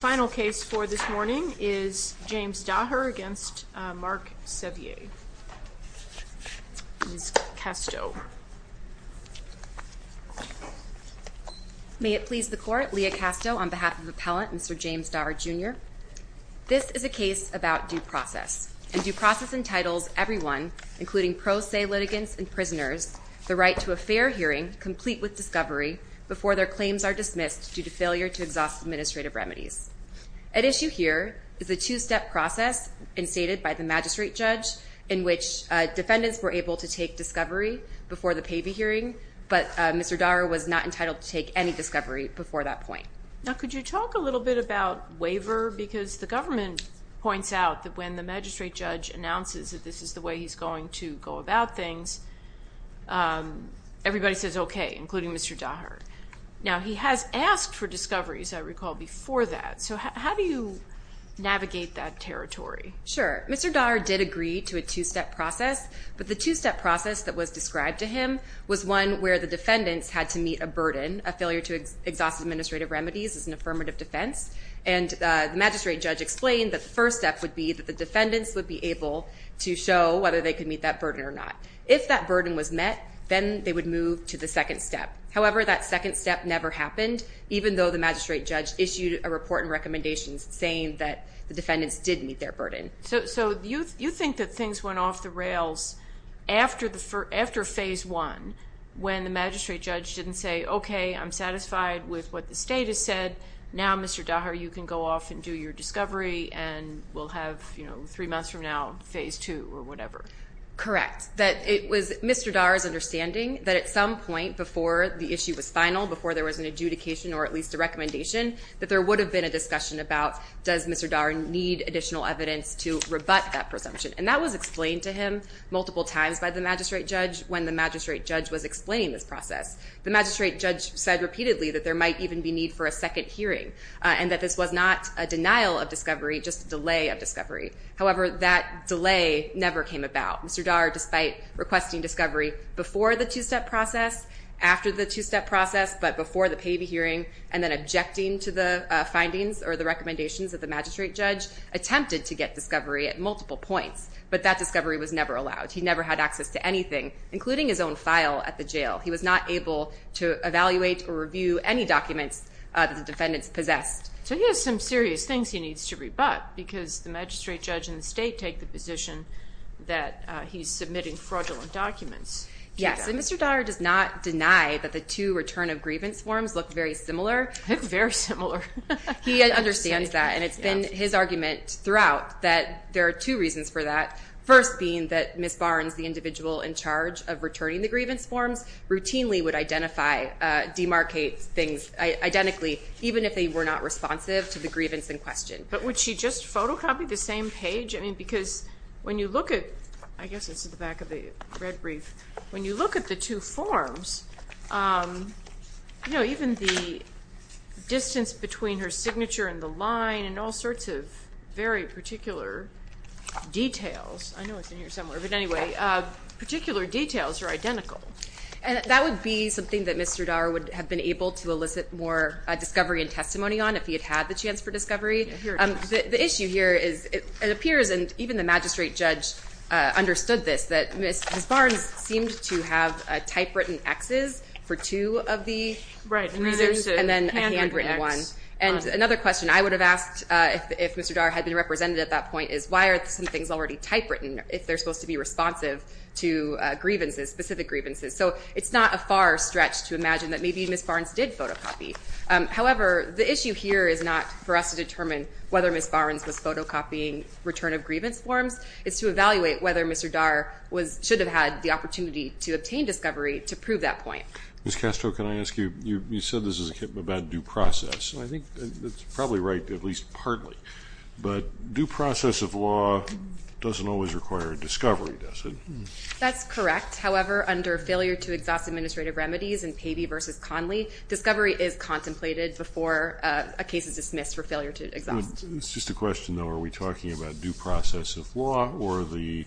Final case for this morning is James Daher v. Mark Sevier. Ms. Castro. May it please the Court, Leah Castro on behalf of Appellant Mr. James Daher, Jr. This is a case about due process, and due process entitles everyone, including pro se litigants and prisoners, the right to a fair hearing, complete with discovery, before their claims are dismissed due to failure to exhaust administrative remedies. At issue here is a two-step process instated by the magistrate judge in which defendants were able to take discovery before the PAVI hearing, but Mr. Daher was not entitled to take any discovery before that point. Now, could you talk a little bit about waiver? Because the government points out that when the magistrate judge announces that this is the way he's going to go about things, everybody says okay, including Mr. Daher. Now, he has asked for discoveries, I recall, before that. So how do you navigate that territory? Sure. Mr. Daher did agree to a two-step process, but the two-step process that was described to him was one where the defendants had to meet a burden, a failure to exhaust administrative remedies as an affirmative defense. And the magistrate judge explained that the first step would be that the defendants would be able to show whether they could meet that burden or not. If that burden was met, then they would move to the second step. However, that second step never happened, even though the magistrate judge issued a report and recommendations saying that the defendants did meet their burden. So you think that things went off the rails after phase one when the magistrate judge didn't say, okay, I'm satisfied with what the state has said. Now, Mr. Daher, you can go off and do your discovery and we'll have three months from now phase two or whatever. Correct. It was Mr. Daher's understanding that at some point before the issue was final, before there was an adjudication or at least a recommendation, that there would have been a discussion about does Mr. Daher need additional evidence to rebut that presumption. And that was explained to him multiple times by the magistrate judge when the magistrate judge was explaining this process. The magistrate judge said repeatedly that there might even be need for a second hearing and that this was not a denial of discovery, just a delay of discovery. However, that delay never came about. Mr. Daher, despite requesting discovery before the two-step process, after the two-step process, but before the payee hearing and then objecting to the findings or the recommendations of the magistrate judge, attempted to get discovery at multiple points, but that discovery was never allowed. He never had access to anything, including his own file at the jail. He was not able to evaluate or review any documents that the defendants possessed. So he has some serious things he needs to rebut, because the magistrate judge and the state take the position that he's submitting fraudulent documents. Yes. And Mr. Daher does not deny that the two return of grievance forms look very similar. Look very similar. He understands that, and it's been his argument throughout that there are two reasons for that, first being that Ms. Barnes, the individual in charge of returning the grievance forms, routinely would identify, demarcate things identically, even if they were not responsive to the grievance in question. But would she just photocopy the same page? I mean, because when you look at, I guess this is the back of the red brief, when you look at the two forms, you know, given the distance between her signature and the line and all sorts of very particular details, I know it's in here somewhere, but anyway, particular details are identical. And that would be something that Mr. Daher would have been able to elicit more discovery and testimony on if he had had the chance for discovery. The issue here is it appears, and even the magistrate judge understood this, is that Ms. Barnes seemed to have typewritten Xs for two of the reasons and then a handwritten one. And another question I would have asked if Mr. Daher had been represented at that point is why are some things already typewritten if they're supposed to be responsive to grievances, specific grievances? So it's not a far stretch to imagine that maybe Ms. Barnes did photocopy. However, the issue here is not for us to determine whether Ms. Barnes was photocopying return of grievance forms. It's to evaluate whether Mr. Daher should have had the opportunity to obtain discovery to prove that point. Ms. Castro, can I ask you, you said this is about due process, and I think that's probably right, at least partly. But due process of law doesn't always require discovery, does it? That's correct. However, under failure to exhaust administrative remedies in Pavey v. Conley, discovery is contemplated before a case is dismissed for failure to exhaust. It's just a question, though. Are we talking about due process of law or the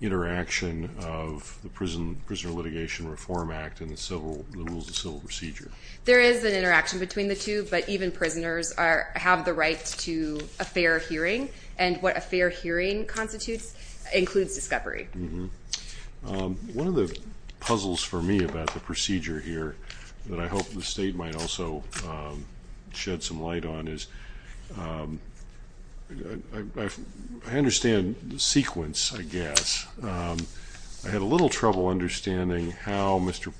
interaction of the Prisoner Litigation Reform Act and the rules of civil procedure? There is an interaction between the two, but even prisoners have the right to a fair hearing, and what a fair hearing constitutes includes discovery. One of the puzzles for me about the procedure here that I hope the State might also shed some light on is I understand the sequence, I guess. I had a little trouble understanding how Mr.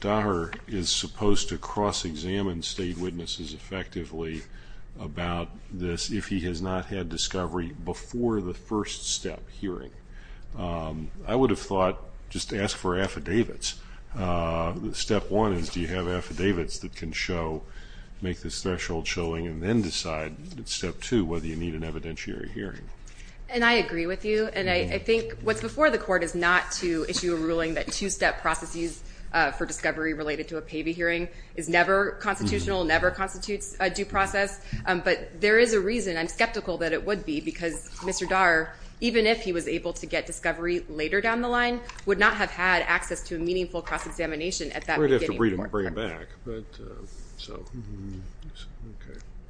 Daher is supposed to cross-examine State witnesses effectively about this if he has not had discovery before the first step, hearing. I would have thought just ask for affidavits. Step one is do you have affidavits that can show, make this threshold showing, and then decide at step two whether you need an evidentiary hearing. And I agree with you, and I think what's before the Court is not to issue a ruling that two-step processes for discovery related to a Pavey hearing is never constitutional, never constitutes a due process. But there is a reason, I'm skeptical that it would be, because Mr. Daher, even if he was able to get discovery later down the line, would not have had access to a meaningful cross-examination at that beginning. We'd have to bring it back.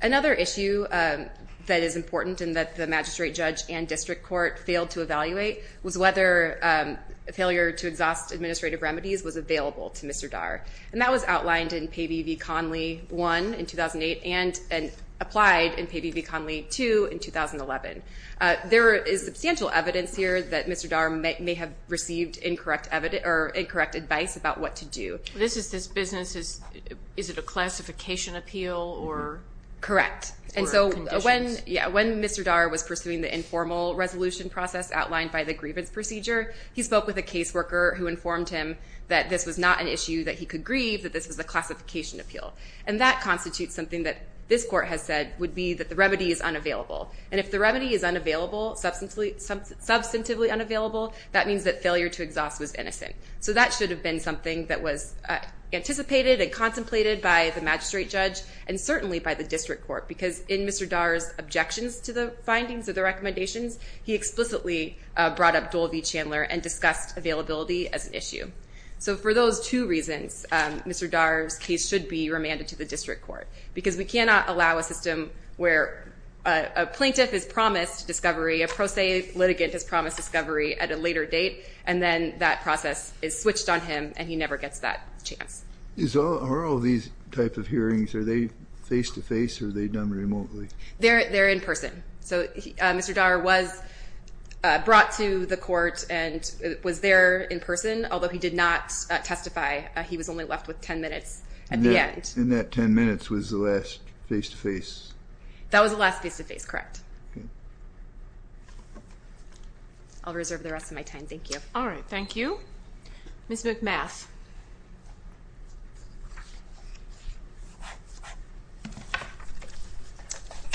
Another issue that is important and that the Magistrate, Judge, and District Court failed to evaluate was whether failure to exhaust administrative remedies was available to Mr. Daher. And that was outlined in Pavey v. Conley 1 in 2008 and applied in Pavey v. Conley 2 in 2011. There is substantial evidence here that Mr. Daher may have received incorrect advice about what to do. This business, is it a classification appeal or conditions? Correct. And so when Mr. Daher was pursuing the informal resolution process outlined by the grievance procedure, he spoke with a caseworker who informed him that this was not an issue that he could grieve, that this was a classification appeal. And that constitutes something that this Court has said would be that the remedy is unavailable. And if the remedy is unavailable, substantively unavailable, that means that failure to exhaust was innocent. So that should have been something that was anticipated and contemplated by the Magistrate, Judge, and certainly by the District Court, because in Mr. Daher's objections to the findings of the recommendations, he explicitly brought up Dole v. Chandler and discussed availability as an issue. So for those two reasons, Mr. Daher's case should be remanded to the District Court, because we cannot allow a system where a plaintiff is promised discovery, a pro se litigant is promised discovery at a later date, and then that process is switched on him, and he never gets that chance. Are all these types of hearings, are they face-to-face or are they done remotely? They're in person. So Mr. Daher was brought to the Court and was there in person, although he did not testify. He was only left with 10 minutes at the end. And that 10 minutes was the last face-to-face? That was the last face-to-face, correct. Okay. I'll reserve the rest of my time. Thank you. All right. Thank you. Ms. McMath.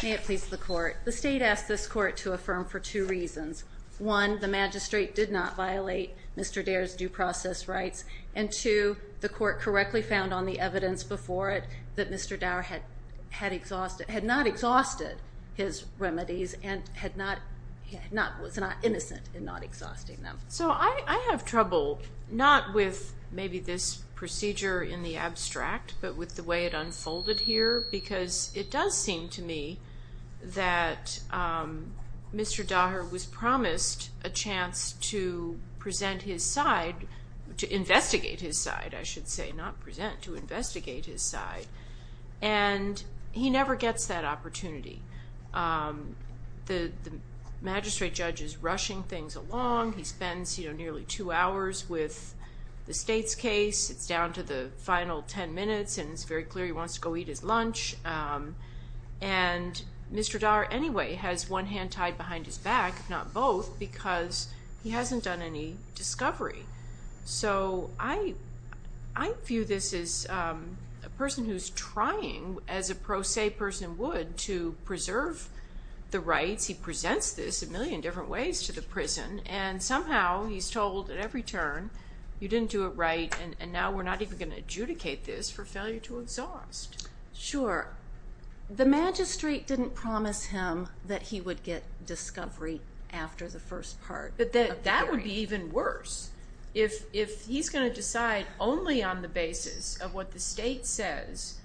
May it please the Court. The State asked this Court to affirm for two reasons. One, the magistrate did not violate Mr. Daher's due process rights, and two, the Court correctly found on the evidence before it that Mr. Daher had not exhausted his remedies and was not innocent in not exhausting them. So I have trouble, not with maybe this procedure in the abstract, but with the way it unfolded here, because it does seem to me that Mr. Daher was promised a chance to present his side, to investigate his side, I should say, not present, to investigate his side. And he never gets that opportunity. The magistrate judge is rushing things along. He spends nearly two hours with the State's case. It's down to the final ten minutes, and it's very clear he wants to go eat his lunch. And Mr. Daher anyway has one hand tied behind his back, if not both, because he hasn't done any discovery. So I view this as a person who's trying, as a pro se person would, to preserve the rights. He presents this a million different ways to the prison, and somehow he's told at every turn, you didn't do it right, and now we're not even going to adjudicate this for failure to exhaust. Sure. The magistrate didn't promise him that he would get discovery after the first part of the hearing. But that would be even worse. If he's going to decide only on the basis of what the State says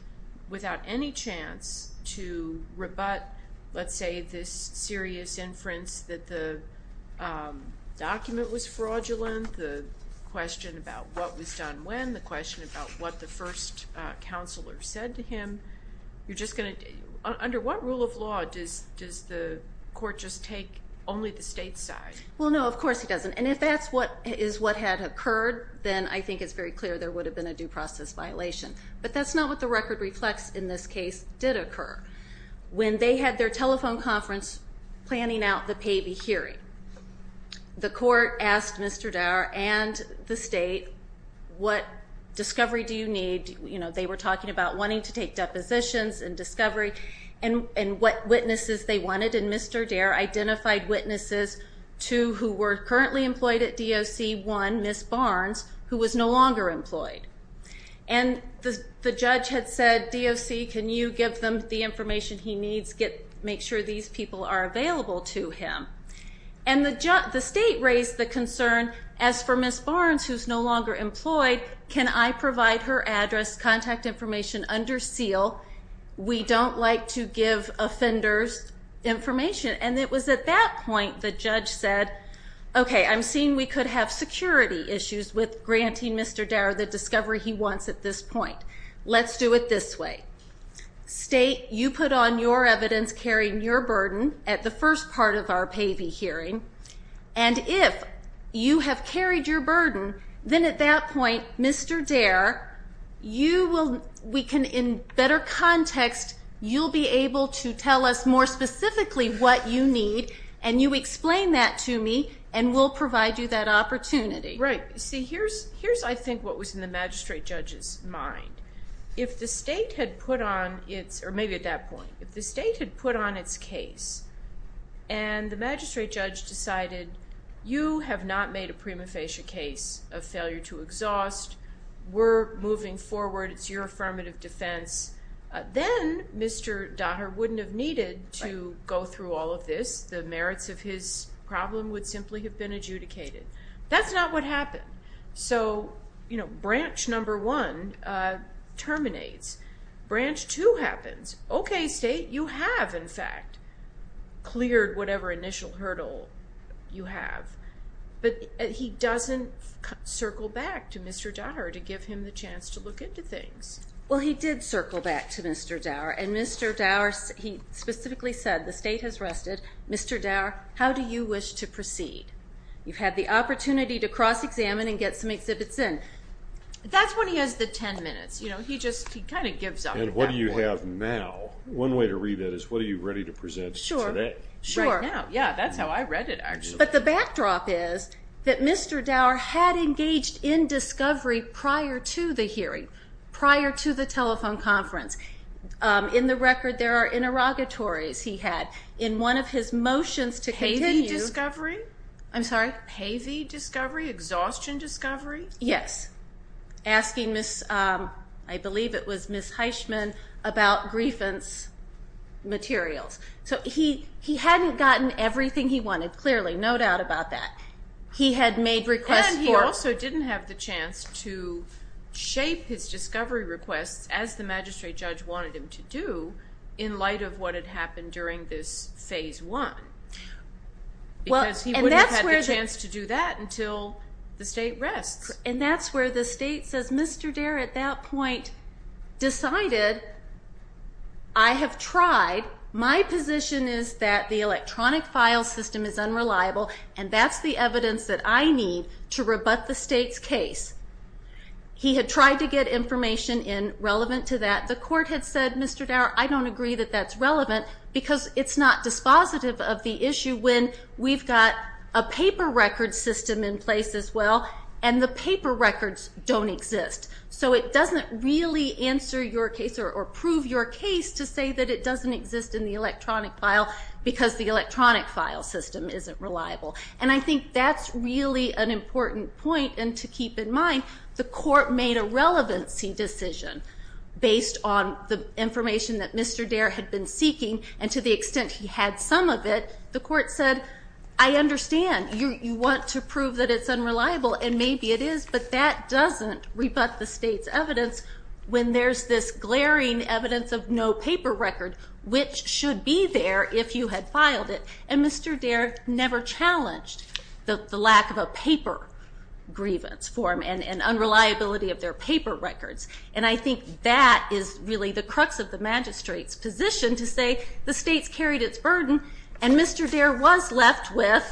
without any chance to rebut, let's say, this serious inference that the document was fraudulent, the question about what was done when, the question about what the first counselor said to him, under what rule of law does the court just take only the State's side? Well, no, of course he doesn't. And if that is what had occurred, then I think it's very clear there would have been a due process violation. But that's not what the record reflects in this case did occur. When they had their telephone conference planning out the Pavey hearing, the court asked Mr. Daher and the State, what discovery do you need? They were talking about wanting to take depositions and discovery and what witnesses they wanted, and Mr. Daher identified witnesses, two who were currently employed at DOC, one, Ms. Barnes, who was no longer employed. And the judge had said, DOC, can you give them the information he needs, make sure these people are available to him. And the State raised the concern, as for Ms. Barnes, who's no longer employed, can I provide her address, contact information under seal? We don't like to give offenders information. And it was at that point the judge said, okay, I'm seeing we could have security issues with granting Mr. Daher the discovery he wants at this point. Let's do it this way. State, you put on your evidence carrying your burden at the first part of our Pavey hearing, and if you have carried your burden, then at that point, Mr. Daher, we can, in better context, you'll be able to tell us more specifically what you need, and you explain that to me, and we'll provide you that opportunity. Right. See, here's, I think, what was in the magistrate judge's mind. If the State had put on its, or maybe at that point, if the State had put on its case and the magistrate judge decided, you have not made a prima facie case of failure to exhaust, we're moving forward, it's your affirmative defense, then Mr. Daher wouldn't have needed to go through all of this. The merits of his problem would simply have been adjudicated. That's not what happened. So, you know, branch number one terminates. Branch two happens. Okay, State, you have, in fact, cleared whatever initial hurdle you have. But he doesn't circle back to Mr. Daher to give him the chance to look into things. Well, he did circle back to Mr. Daher, and Mr. Daher, he specifically said, the State has rested. Mr. Daher, how do you wish to proceed? You've had the opportunity to cross-examine and get some exhibits in. That's when he has the 10 minutes. You know, he just kind of gives up at that point. And what do you have now? One way to read that is what are you ready to present today? Sure. Right now. Yeah, that's how I read it, actually. But the backdrop is that Mr. Daher had engaged in discovery prior to the hearing, prior to the telephone conference. In the record, there are interrogatories he had. In one of his motions to continue. Pavy discovery? I'm sorry? Pavy discovery? Exhaustion discovery? Yes. Asking Miss, I believe it was Miss Heishman, about grievance materials. So he hadn't gotten everything he wanted, clearly, no doubt about that. He had made requests for. And he also didn't have the chance to shape his discovery requests, as the magistrate judge wanted him to do, in light of what had happened during this phase one. Because he wouldn't have had the chance to do that until the state rests. And that's where the state says, Mr. Daher, at that point, decided I have tried. My position is that the electronic file system is unreliable, and that's the evidence that I need to rebut the state's case. He had tried to get information in relevant to that. The court had said, Mr. Daher, I don't agree that that's relevant, because it's not dispositive of the issue when we've got a paper record system in place as well, and the paper records don't exist. So it doesn't really answer your case, or prove your case to say that it doesn't exist in the electronic file, because the electronic file system isn't reliable. And I think that's really an important point. And to keep in mind, the court made a relevancy decision based on the information that Mr. Daher had been seeking, and to the extent he had some of it, the court said, I understand. You want to prove that it's unreliable, and maybe it is, but that doesn't rebut the state's evidence when there's this glaring evidence of no paper record, which should be there if you had filed it. And Mr. Daher never challenged the lack of a paper grievance form and unreliability of their paper records. And I think that is really the crux of the magistrate's position to say, the state's carried its burden, and Mr. Daher was left with,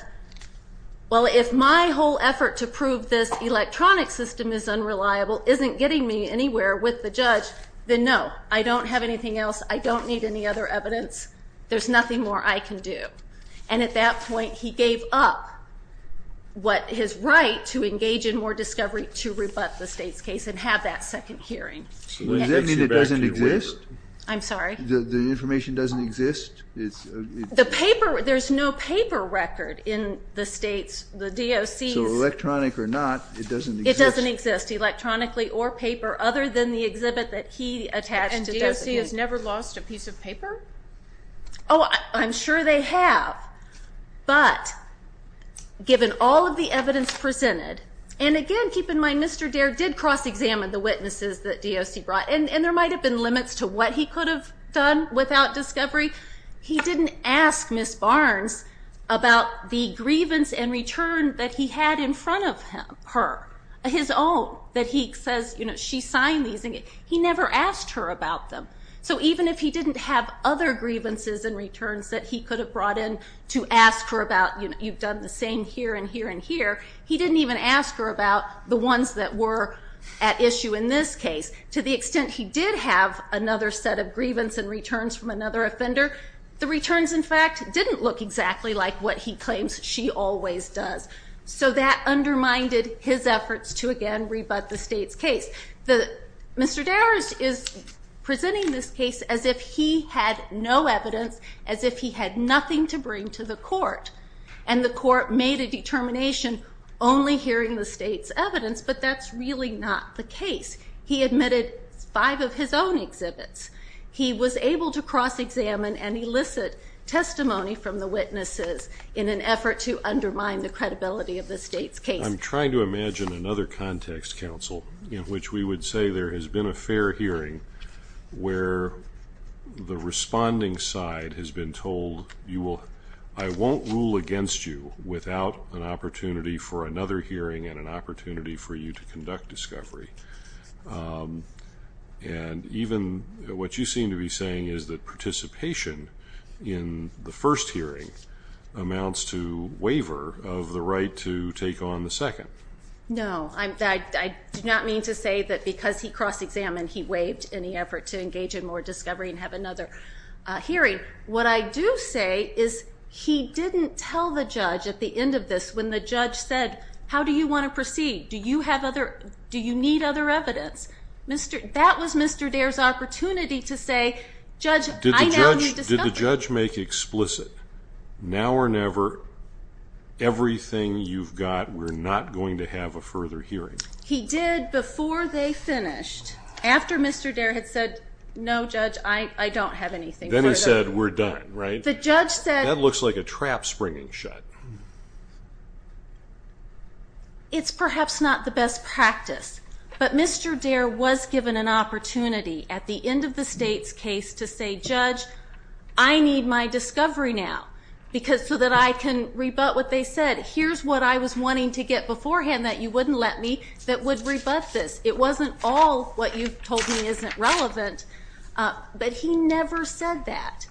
well, if my whole effort to prove this electronic system is unreliable isn't getting me anywhere with the judge, then no. I don't have anything else. I don't need any other evidence. There's nothing more I can do. And at that point, he gave up his right to engage in more discovery to rebut the state's case and have that second hearing. Does that mean it doesn't exist? I'm sorry? The information doesn't exist? The paper, there's no paper record in the state's, the DOC's. So electronic or not, it doesn't exist? It doesn't exist, electronically or paper, other than the exhibit that he attached to those papers. And DOC has never lost a piece of paper? Oh, I'm sure they have. But given all of the evidence presented, and again, keep in mind, Mr. Daher did cross-examine the witnesses that DOC brought, and there might have been limits to what he could have done without discovery. He didn't ask Ms. Barnes about the grievance and return that he had in front of her, his own, that he says she signed these. He never asked her about them. So even if he didn't have other grievances and returns that he could have brought in to ask her about, you've done the same here and here and here, he didn't even ask her about the ones that were at issue in this case. To the extent he did have another set of grievance and returns from another offender, the returns, in fact, didn't look exactly like what he claims she always does. So that undermined his efforts to, again, rebut the state's case. Mr. Daher is presenting this case as if he had no evidence, as if he had nothing to bring to the court, and the court made a determination only hearing the state's evidence, but that's really not the case. He admitted five of his own exhibits. He was able to cross-examine and elicit testimony from the witnesses in an effort to undermine the credibility of the state's case. I'm trying to imagine another context, Counsel, in which we would say there has been a fair hearing where the responding side has been told, I won't rule against you without an opportunity for another hearing and an opportunity for you to conduct discovery. And even what you seem to be saying is that participation in the first hearing amounts to waiver of the right to take on the second. No, I do not mean to say that because he cross-examined, he waived any effort to engage in more discovery and have another hearing. What I do say is he didn't tell the judge at the end of this, when the judge said, How do you want to proceed? Do you need other evidence? That was Mr. Dare's opportunity to say, Judge, I now need discovery. Did the judge make explicit, now or never, everything you've got, we're not going to have a further hearing? He did before they finished. After Mr. Dare had said, No, Judge, I don't have anything further. Then he said, We're done, right? That looks like a trap springing shut. It's perhaps not the best practice, but Mr. Dare was given an opportunity at the end of the state's case to say, Judge, I need my discovery now so that I can rebut what they said. Here's what I was wanting to get beforehand that you wouldn't let me, that would rebut this. It wasn't all what you told me isn't relevant, but he never said that.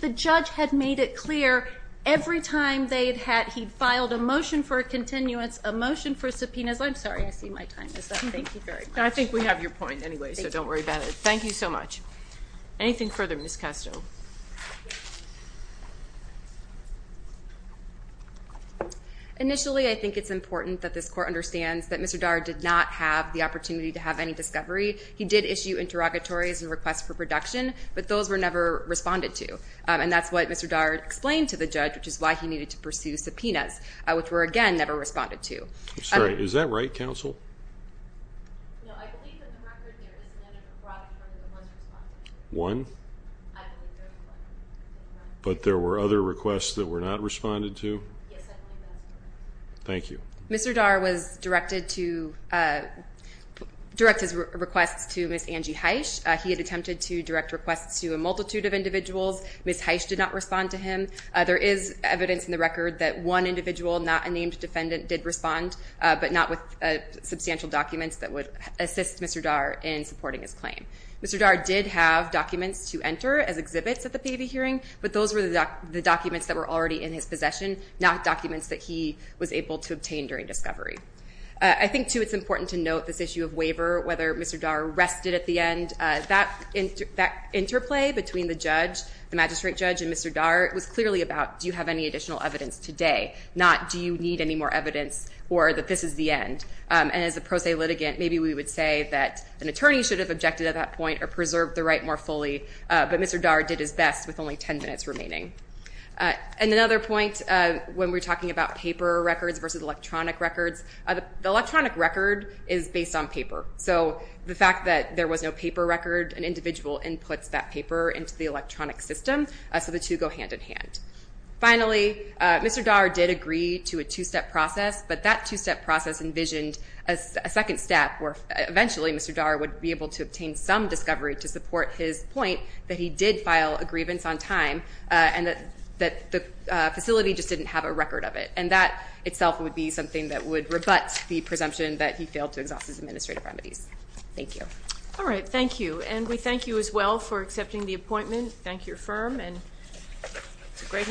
The judge had made it clear every time they had had, he filed a motion for a continuance, a motion for subpoenas. I'm sorry, I see my time is up. Thank you very much. I think we have your point anyway, so don't worry about it. Thank you so much. Anything further, Ms. Kestel? Initially, I think it's important that this court understands that Mr. Dare did not have the opportunity to have any discovery. He did issue interrogatories and requests for production, but those were never responded to. And that's what Mr. Dare explained to the judge, which is why he needed to pursue subpoenas, which were, again, never responded to. I'm sorry. Is that right, counsel? No, I believe in the record there is none of the products that were once responded to. One? I believe there is one. But there were other requests that were not responded to? Yes, I believe that's correct. Thank you. Mr. Dare was directed to direct his requests to Ms. Angie Heisch. He had attempted to direct requests to a multitude of individuals. Ms. Heisch did not respond to him. There is evidence in the record that one individual, not a named defendant, did respond, but not with substantial documents that would assist Mr. Dare in supporting his claim. Mr. Dare did have documents to enter as exhibits at the payee hearing, but those were the documents that were already in his possession, not documents that he was able to obtain during discovery. I think, too, it's important to note this issue of waiver, whether Mr. Dare rested at the end. That interplay between the judge, the magistrate judge, and Mr. Dare was clearly about do you have any additional evidence today, not do you need any more evidence or that this is the end. And as a pro se litigant, maybe we would say that an attorney should have objected at that point or preserved the right more fully, but Mr. Dare did his best with only 10 minutes remaining. And another point when we're talking about paper records versus electronic records, the electronic record is based on paper. So the fact that there was no paper record, an individual inputs that paper into the electronic system, so the two go hand in hand. Finally, Mr. Dare did agree to a two-step process, but that two-step process envisioned a second step where eventually Mr. Dare would be able to obtain some discovery to support his point that he did file a grievance on time and that the facility just didn't have a record of it. And that itself would be something that would rebut the presumption that he Thank you. All right. Thank you. And we thank you as well for accepting the appointment. Thank your firm. And it's a great.